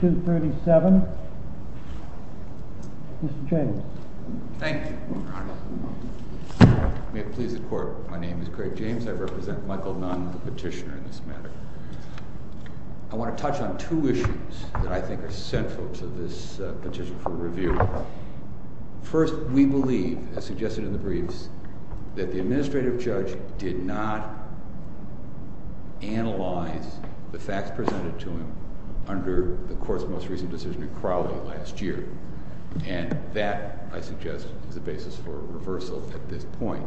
237. Mr. James. Thank you, Your Honor. May it please the Court, my name is Craig James. I represent Michael Nunn, the petitioner in this matter. I want to touch on two issues that I think are central to this petition for review. First, we believe, as suggested in the briefs, that the Administrative Judge did not analyze the facts presented to him under the Court's most recent decision in Crowley last year. And that, I suggest, is the basis for a reversal at this point.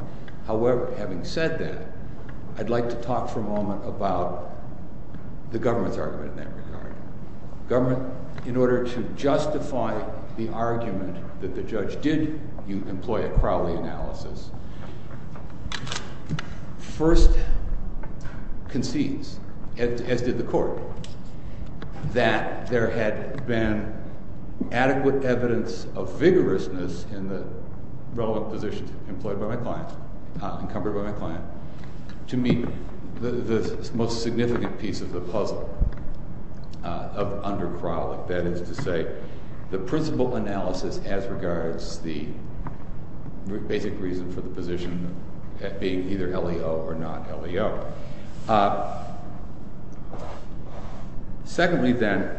However, having said that, I'd like to talk for a moment about the government's argument in that regard. Government, in order to justify the argument that the judge did employ a Crowley analysis, first concedes, as did the Court, that there had been adequate evidence of vigorousness in the relevant positions encumbered by my client to meet the most significant piece of the puzzle under Crowley. That is to say, the principal analysis as regards the basic reason for the position being either LEO or not LEO. Secondly, then,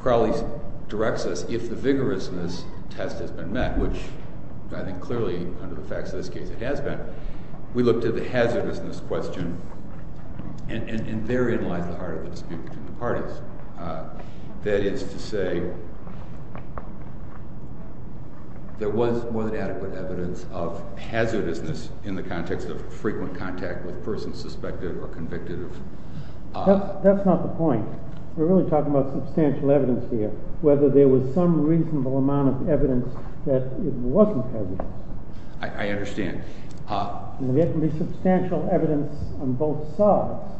Crowley directs us, if the vigorousness test has been met, which I think clearly, under the facts of this case, it has been, we look to the hazardousness question and therein lies the heart of the dispute between the parties. That is to say, there was more than adequate evidence of hazardousness in the context of frequent contact with persons suspected or convicted of… That's not the point. We're really talking about substantial evidence here. Whether there was some reasonable amount of evidence that it wasn't hazardous. I understand. There can be substantial evidence on both sides,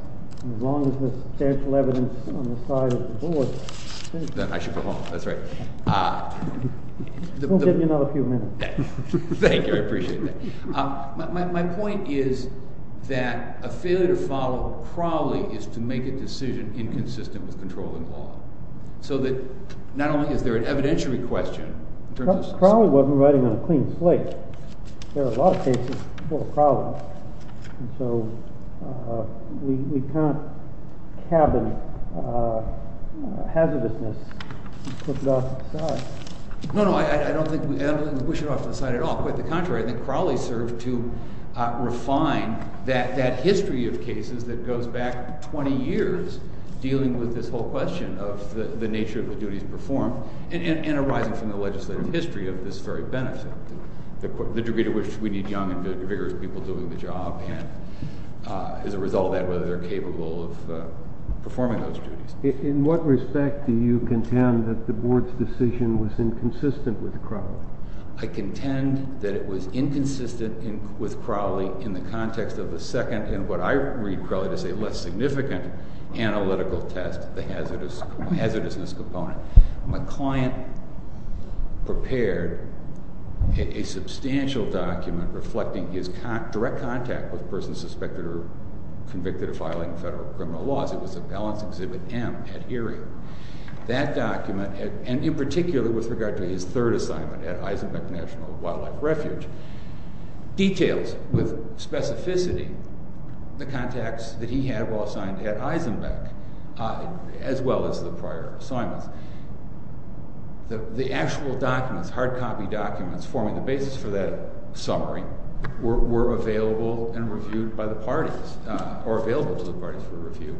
as long as there's substantial evidence on the side of the board. I should go home. That's right. We'll give you another few minutes. Thank you. I appreciate that. My point is that a failure to follow Crowley is to make a decision inconsistent with controlling law. So that not only is there an evidentiary question… Crowley wasn't riding on a clean slate. There are a lot of cases for Crowley. So we can't cabin hazardousness and push it off to the side. No, no. I don't think we should push it off to the side at all. Quite the contrary. I think Crowley served to refine that history of cases that goes back 20 years, dealing with this whole question of the nature of the duties performed, and arising from the legislative history of this very benefit. The degree to which we need young and vigorous people doing the job, and as a result of that, whether they're capable of performing those duties. In what respect do you contend that the board's decision was inconsistent with Crowley? In the context of the second and what I read Crowley to say less significant analytical test, the hazardousness component. My client prepared a substantial document reflecting his direct contact with a person suspected or convicted of filing federal criminal laws. It was a balance exhibit M at Erie. That document, and in particular with regard to his third assignment at Eisenbeck National Wildlife Refuge, details with specificity the contacts that he had while assigned at Eisenbeck, as well as the prior assignments. The actual documents, hard copy documents, forming the basis for that summary, were available and reviewed by the parties, or available to the parties for review.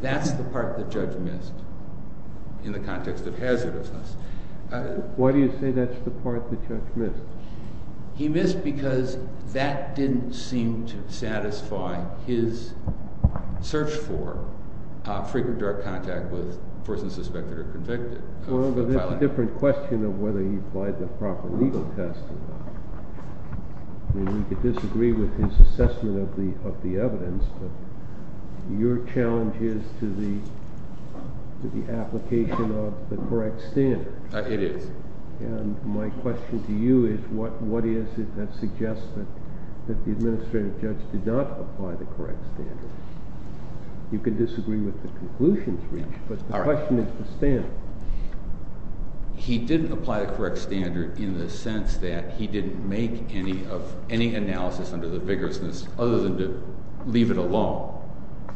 That's the part that Judge missed in the context of hazardousness. Why do you say that's the part that Judge missed? He missed because that didn't seem to satisfy his search for frequent direct contact with a person suspected or convicted. Well, but that's a different question of whether he applied the proper legal test to that. I mean, we could disagree with his assessment of the evidence, but your challenge is to the application of the correct standard. It is. And my question to you is, what is it that suggests that the administrative judge did not apply the correct standard? You can disagree with the conclusions reached, but the question is to Stan. He didn't apply the correct standard in the sense that he didn't make any analysis under the vigorousness, other than to leave it alone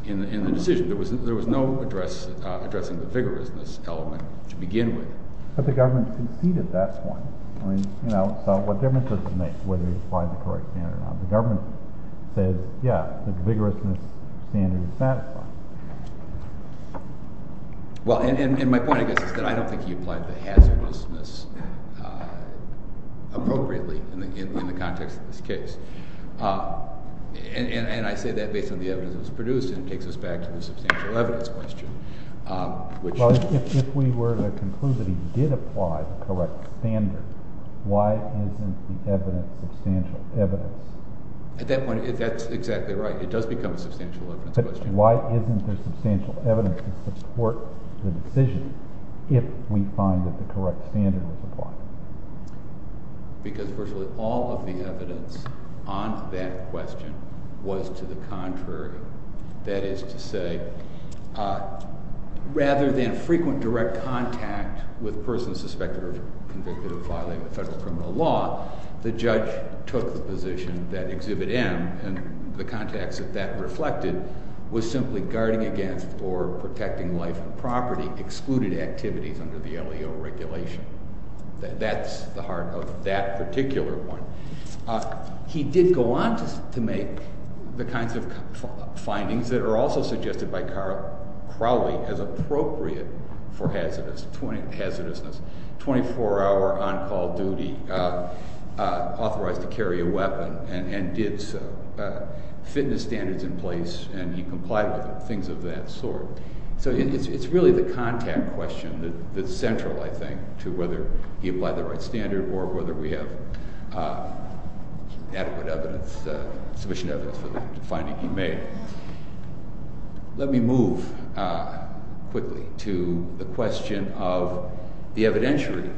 in the decision. There was no addressing the vigorousness element to begin with. But the government conceded that point. I mean, you know, so what difference does it make whether he applied the correct standard or not? The government said, yeah, the vigorousness standard is satisfied. Well, and my point, I guess, is that I don't think he applied the hazardousness appropriately in the context of this case. And I say that based on the evidence that was produced, and it takes us back to the substantial evidence question. Well, if we were to conclude that he did apply the correct standard, why isn't the evidence substantial evidence? At that point, that's exactly right. It does become a substantial evidence question. But why isn't there substantial evidence to support the decision if we find that the correct standard was applied? Because virtually all of the evidence on that question was to the contrary. That is to say, rather than frequent direct contact with persons suspected or convicted of violating the federal criminal law, the judge took the position that Exhibit M, and the context of that reflected, was simply guarding against or protecting life and property, excluded activities under the LEO regulation. That's the heart of that particular one. He did go on to make the kinds of findings that are also suggested by Crowley as appropriate for hazardousness. 24-hour on-call duty, authorized to carry a weapon, and did so. Fitness standards in place, and he complied with it, things of that sort. So it's really the contact question that's central, I think, to whether he applied the right standard or whether we have adequate evidence, sufficient evidence for the finding he made. Let me move quickly to the question of the evidentiary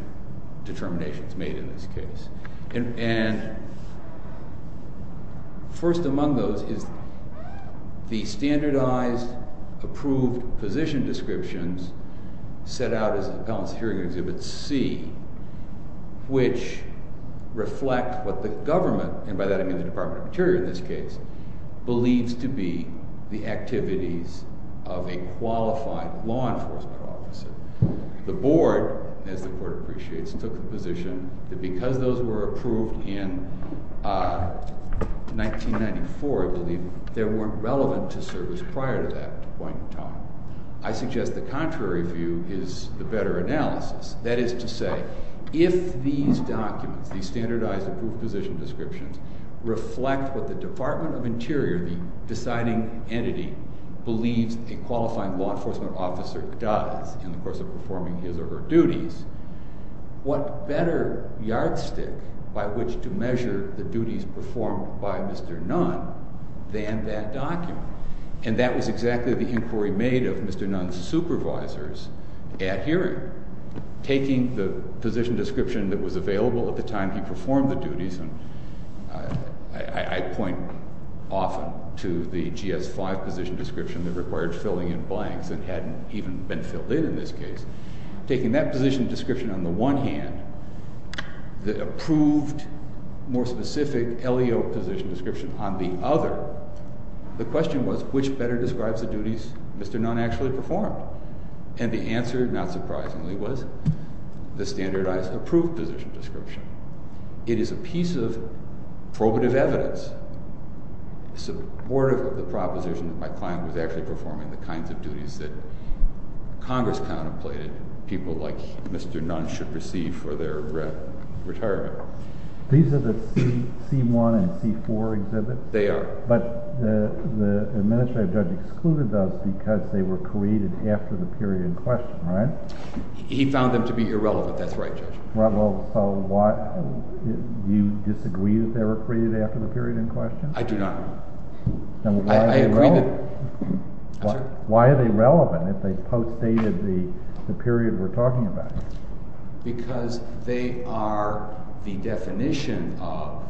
determinations made in this case. And first among those is the standardized approved position descriptions set out as accounts here in Exhibit C, which reflect what the government, and by that I mean the Department of Interior in this case, believes to be the activities of a qualified law enforcement officer. The Board, as the Court appreciates, took the position that because those were approved in 1994, I believe, they weren't relevant to service prior to that point in time. I suggest the contrary view is the better analysis. That is to say, if these documents, these standardized approved position descriptions, reflect what the Department of Interior, the deciding entity, believes a qualifying law enforcement officer does in the course of performing his or her duties, what better yardstick by which to measure the duties performed by Mr. Nunn than that document? And that was exactly the inquiry made of Mr. Nunn's supervisors at hearing. Taking the position description that was available at the time he performed the duties, and I point often to the GS-5 position description that required filling in blanks and hadn't even been filled in in this case. Taking that position description on the one hand, the approved, more specific, LEO position description on the other, the question was which better describes the duties Mr. Nunn actually performed? And the answer, not surprisingly, was the standardized approved position description. It is a piece of probative evidence, supportive of the proposition that my client was actually performing the kinds of duties that Congress contemplated people like Mr. Nunn should receive for their retirement. These are the C-1 and C-4 exhibits? They are. But the administrative judge excluded those because they were created after the period in question, right? He found them to be irrelevant. That's right, Judge. Do you disagree that they were created after the period in question? I do not. Then why are they relevant? I'm sorry? Why are they relevant if they post-dated the period we're talking about? Because they are the definition of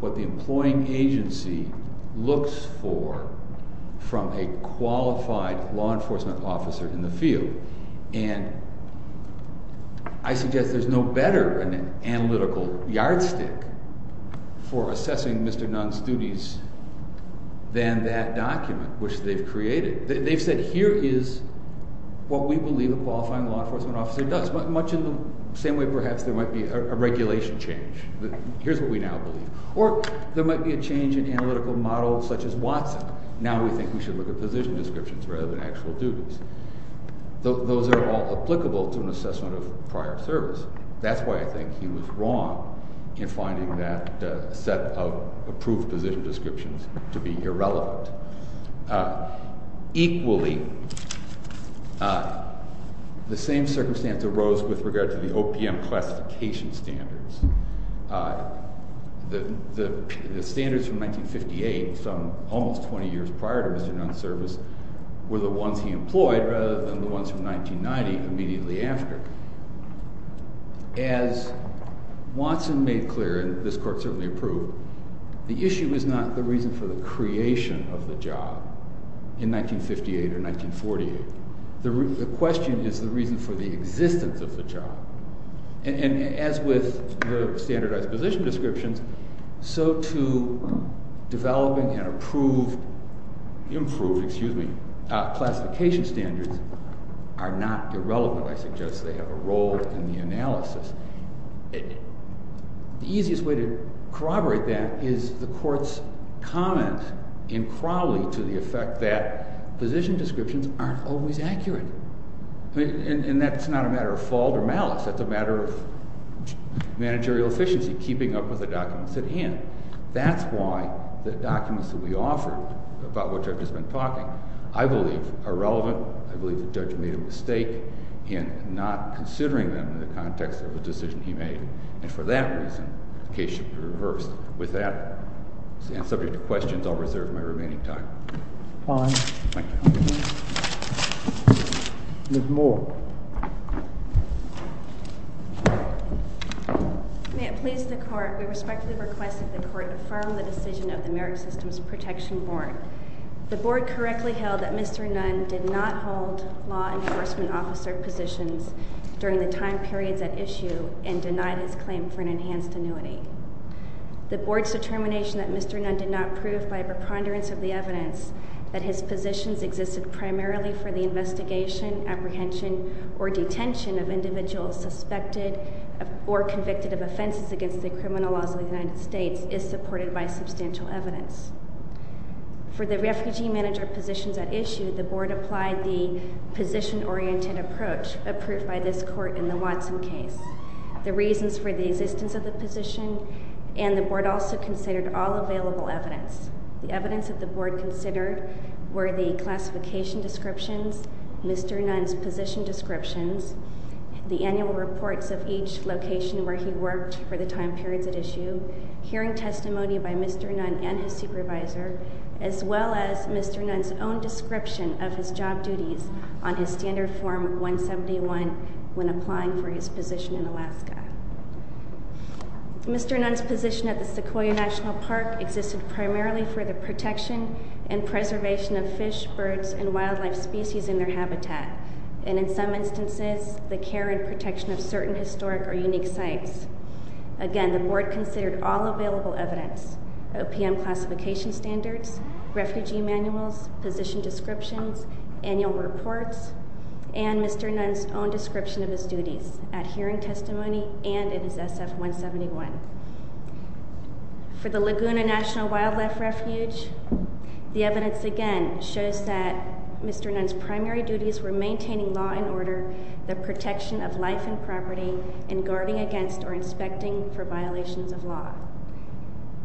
what the employing agency looks for from a qualified law enforcement officer in the field, and I suggest there's no better analytical yardstick for assessing Mr. Nunn's duties than that document which they've created. They've said here is what we believe a qualifying law enforcement officer does, much in the same way perhaps there might be a regulation change. Here's what we now believe. Or there might be a change in analytical models such as Watson. Now we think we should look at position descriptions rather than actual duties. Those are all applicable to an assessment of prior service. That's why I think he was wrong in finding that set of approved position descriptions to be irrelevant. Equally, the same circumstance arose with regard to the OPM classification standards. The standards from 1958, almost 20 years prior to Mr. Nunn's service, were the ones he employed rather than the ones from 1990 immediately after. As Watson made clear, and this court certainly approved, the issue is not the reason for the creation of the job in 1958 or 1948. The question is the reason for the existence of the job. And as with the standardized position descriptions, so too developing and improved classification standards are not irrelevant. I suggest they have a role in the analysis. The easiest way to corroborate that is the court's comment in Crowley to the effect that position descriptions aren't always accurate. And that's not a matter of fault or malice. That's a matter of managerial efficiency, keeping up with the documents at hand. That's why the documents that we offer, about which I've just been talking, I believe are relevant. I believe the judge made a mistake in not considering them in the context of the decision he made. And for that reason, the case should be reversed. With that, and subject to questions, I'll reserve my remaining time. Fine. Ms. Moore. May it please the Court, we respectfully request that the Court affirm the decision of the Merit Systems Protection Board. The Board correctly held that Mr. Nunn did not hold law enforcement officer positions during the time periods at issue and denied his claim for an enhanced annuity. The Board's determination that Mr. Nunn did not prove by a preponderance of the evidence that his positions existed primarily for the investigation, apprehension, or detention of individuals suspected or convicted of offenses against the criminal laws of the United States is supported by substantial evidence. For the refugee manager positions at issue, the Board applied the position-oriented approach approved by this Court in the Watson case. The reasons for the existence of the position and the Board also considered all available evidence. The evidence that the Board considered were the classification descriptions, Mr. Nunn's position descriptions, the annual reports of each location where he worked for the time periods at issue, hearing testimony by Mr. Nunn and his supervisor, as well as Mr. Nunn's own description of his job duties on his Standard Form 171 when applying for his position in Alaska. Mr. Nunn's position at the Sequoia National Park existed primarily for the protection and preservation of fish, birds, and wildlife species in their habitat, and in some instances, the care and protection of certain historic or unique sites. Again, the Board considered all available evidence, OPM classification standards, refugee manuals, position descriptions, annual reports, and Mr. Nunn's own description of his duties at hearing testimony and in his SF-171. For the Laguna National Wildlife Refuge, the evidence again shows that Mr. Nunn's primary duties were maintaining law and order, the protection of life and property, and guarding against or inspecting for violations of law.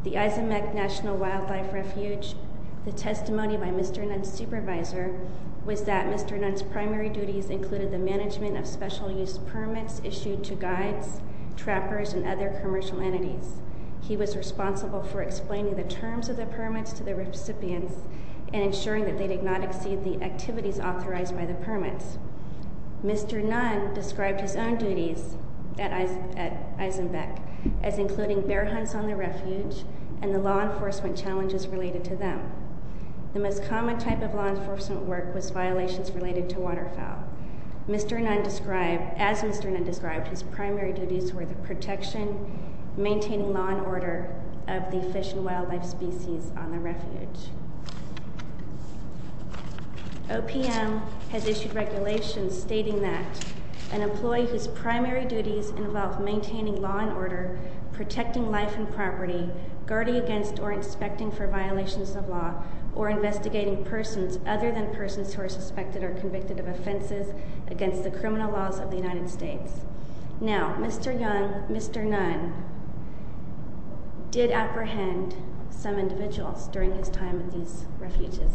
The Izembek National Wildlife Refuge, the testimony by Mr. Nunn's supervisor was that Mr. Nunn's primary duties included the management of special use permits issued to guides, trappers, and other commercial entities. He was responsible for explaining the terms of the permits to the recipients and ensuring that they did not exceed the activities authorized by the permits. Mr. Nunn described his own duties at Izembek as including bear hunts on the refuge and the law enforcement challenges related to them. The most common type of law enforcement work was violations related to waterfowl. As Mr. Nunn described, his primary duties were the protection, maintaining law and order of the fish and wildlife species on the refuge. OPM has issued regulations stating that an employee whose primary duties involve maintaining law and order, protecting life and property, guarding against or inspecting for violations of law, or investigating persons other than persons who are suspected or convicted of offenses against the criminal laws of the United States. Now, Mr. Nunn did apprehend some individuals during his time at these refuges.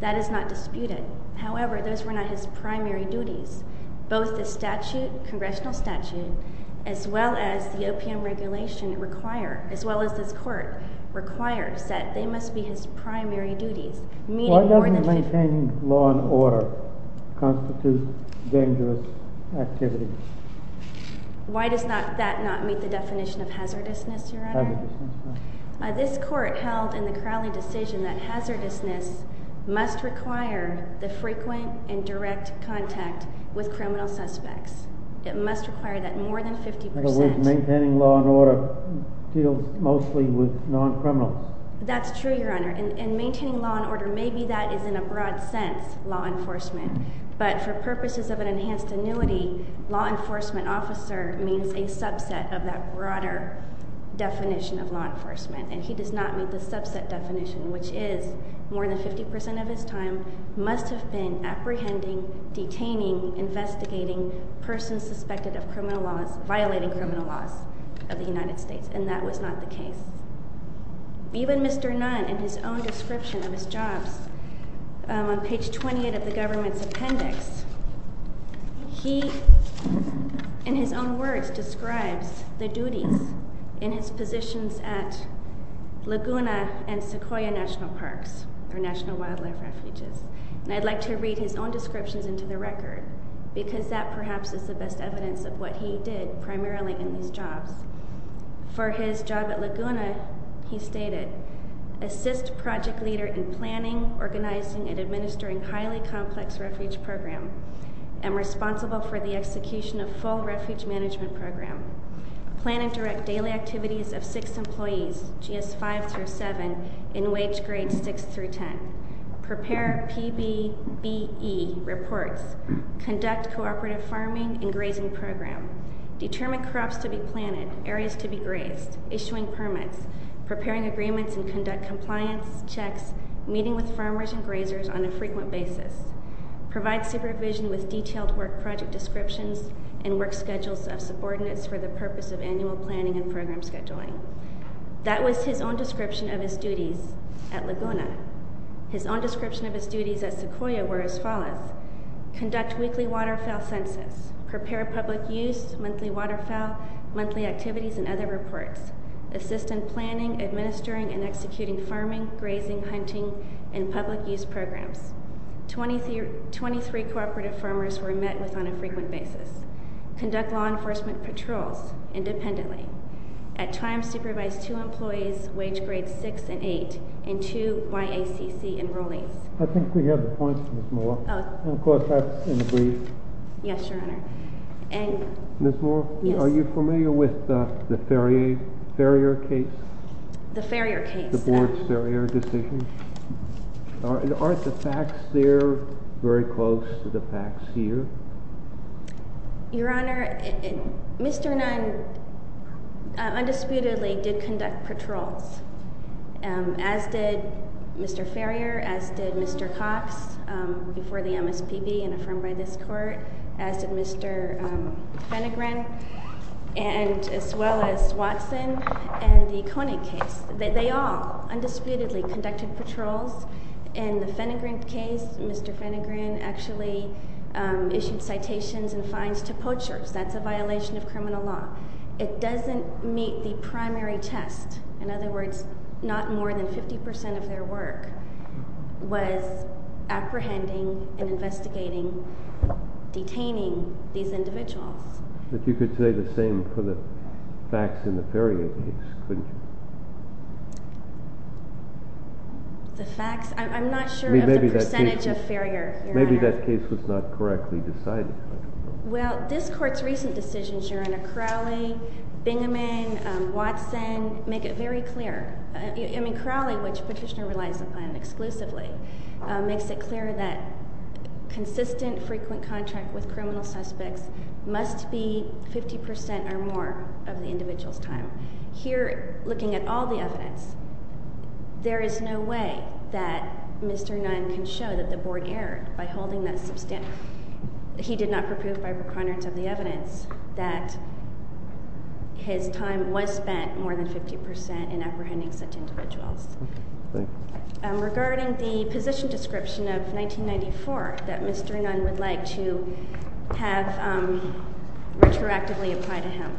That is not disputed. However, those were not his primary duties. Both the statute, congressional statute, as well as the OPM regulation, as well as this court, require that they must be his primary duties. Why doesn't maintaining law and order constitute dangerous activities? Why does that not meet the definition of hazardousness, Your Honor? This court held in the Crowley decision that hazardousness must require the frequent and direct contact with criminal suspects. It must require that more than 50%— In other words, maintaining law and order deals mostly with non-criminals. That's true, Your Honor. And maintaining law and order, maybe that is, in a broad sense, law enforcement. But for purposes of an enhanced annuity, law enforcement officer means a subset of that broader definition of law enforcement. And he does not meet the subset definition, which is more than 50% of his time must have been apprehending, detaining, investigating persons suspected of violating criminal laws of the United States. And that was not the case. Even Mr. Nunn, in his own description of his jobs, on page 28 of the government's appendix, he, in his own words, describes the duties in his positions at Laguna and Sequoia National Parks or National Wildlife Refuges. And I'd like to read his own descriptions into the record, because that perhaps is the best evidence of what he did primarily in these jobs. For his job at Laguna, he stated, assist project leader in planning, organizing, and administering highly complex refuge program. Am responsible for the execution of full refuge management program. Plan and direct daily activities of six employees, GS5 through 7, in wage grades 6 through 10. Prepare PBBE reports. Conduct cooperative farming and grazing program. Determine crops to be planted, areas to be grazed. Issuing permits. Preparing agreements and conduct compliance checks. Meeting with farmers and grazers on a frequent basis. Provide supervision with detailed work project descriptions and work schedules of subordinates for the purpose of annual planning and program scheduling. That was his own description of his duties at Laguna. His own description of his duties at Sequoia were as follows. Conduct weekly waterfowl census. Prepare public use, monthly waterfowl, monthly activities, and other reports. Assist in planning, administering, and executing farming, grazing, hunting, and public use programs. 23 cooperative farmers were met with on a frequent basis. Conduct law enforcement patrols independently. At times, supervise two employees, wage grades 6 and 8, and two YACC enrollees. I think we have the points, Ms. Moore. Oh. And of course, that's in the brief. Yes, Your Honor. Ms. Moore? Yes. Are you familiar with the Farrier case? The Farrier case? The board's Farrier decision. Aren't the facts there very close to the facts here? Your Honor, Mr. Nunn undisputedly did conduct patrols, as did Mr. Farrier, as did Mr. Cox before the MSPB and affirmed by this court, as did Mr. Fennegrin, as well as Watson, and the Koenig case. They all undisputedly conducted patrols. In the Fennegrin case, Mr. Fennegrin actually issued citations and fines to poachers. That's a violation of criminal law. It doesn't meet the primary test. In other words, not more than 50% of their work was apprehending and investigating, detaining these individuals. But you could say the same for the facts in the Farrier case, couldn't you? The facts? I'm not sure of the percentage of Farrier, Your Honor. Maybe that case was not correctly decided. Well, this court's recent decisions, Your Honor, Crowley, Bingaman, Watson, make it very clear. I mean, Crowley, which Petitioner relies upon exclusively, makes it clear that consistent, frequent contract with criminal suspects must be 50% or more of the individual's time. Here, looking at all the evidence, there is no way that Mr. Nunn can show that the board erred by holding that substantive. He did not prove by reconnaissance of the evidence that his time was spent more than 50% in apprehending such individuals. Regarding the position description of 1994 that Mr. Nunn would like to have retroactively applied to him,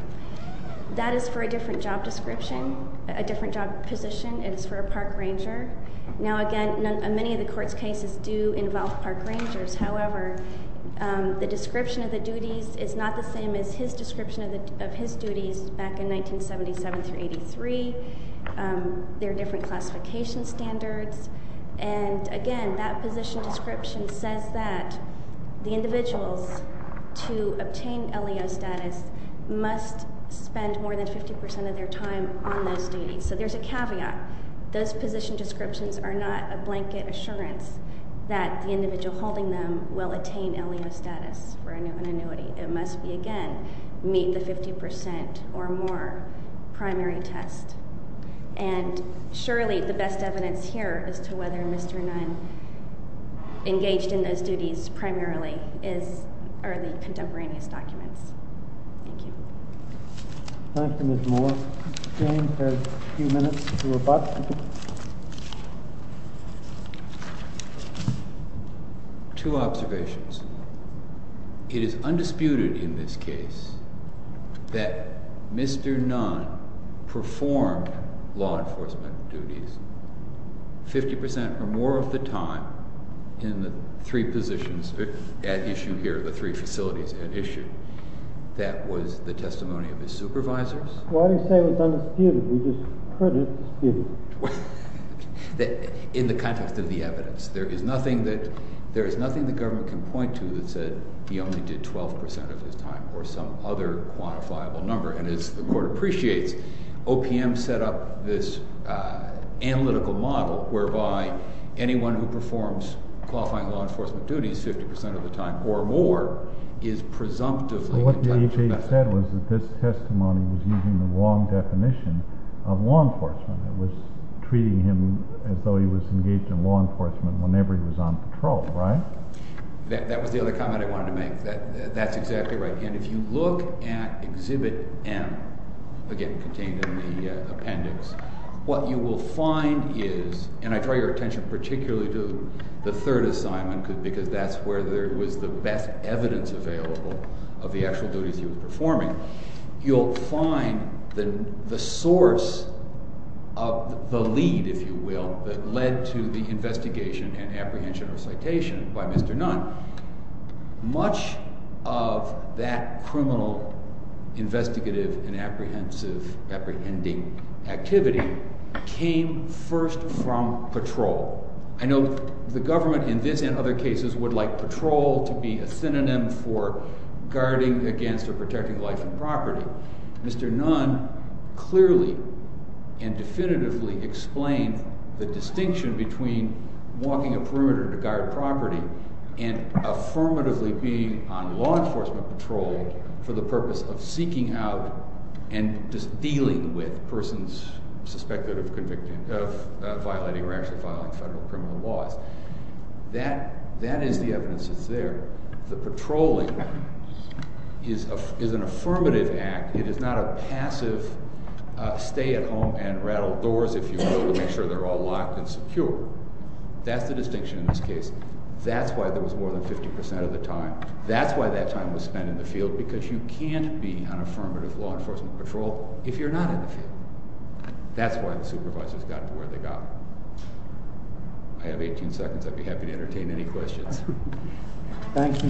that is for a different job description, a different job position. It is for a park ranger. Now, again, many of the court's cases do involve park rangers. However, the description of the duties is not the same as his description of his duties back in 1977 through 1983. There are different classification standards. And, again, that position description says that the individuals to obtain LEO status must spend more than 50% of their time on those duties. So there's a caveat. Those position descriptions are not a blanket assurance that the individual holding them will attain LEO status for an annuity. It must be, again, meet the 50% or more primary test. And, surely, the best evidence here as to whether Mr. Nunn engaged in those duties primarily are the contemporaneous documents. Thank you. Thank you, Mr. Moore. James has a few minutes to rebut. Two observations. It is undisputed in this case that Mr. Nunn performed law enforcement duties 50% or more of the time in the three positions at issue here, the three facilities at issue. That was the testimony of his supervisors. Why do you say it's undisputed? We just heard it's disputed. In the context of the evidence, there is nothing that the government can point to that said he only did 12% of his time or some other quantifiable number. And as the Court appreciates, OPM set up this analytical model whereby anyone who performs qualifying law enforcement duties 50% of the time or more is presumptively entitled to benefit. What the AHA said was that this testimony was using the wrong definition of law enforcement. It was treating him as though he was engaged in law enforcement whenever he was on patrol, right? That was the other comment I wanted to make. That's exactly right. And if you look at Exhibit M, again, contained in the appendix, what you will find is—and I draw your attention particularly to the third assignment because that's where there was the best evidence available of the actual duties he was performing. You'll find the source of the lead, if you will, that led to the investigation and apprehension of citation by Mr. Nunn. Much of that criminal investigative and apprehending activity came first from patrol. I know the government in this and other cases would like patrol to be a synonym for guarding against or protecting life and property. Mr. Nunn clearly and definitively explained the distinction between walking a perimeter to guard property and affirmatively being on law enforcement patrol for the purpose of seeking out and dealing with persons suspected of violating or actually violating federal criminal laws. That is the evidence that's there. The patrolling is an affirmative act. It is not a passive stay at home and rattle doors, if you will, to make sure they're all locked and secure. That's the distinction in this case. That's why there was more than 50 percent of the time. That's why that time was spent in the field because you can't be on affirmative law enforcement patrol if you're not in the field. That's why the supervisors got to where they got. I have 18 seconds. I'd be happy to entertain any questions. Thank you. Thank you.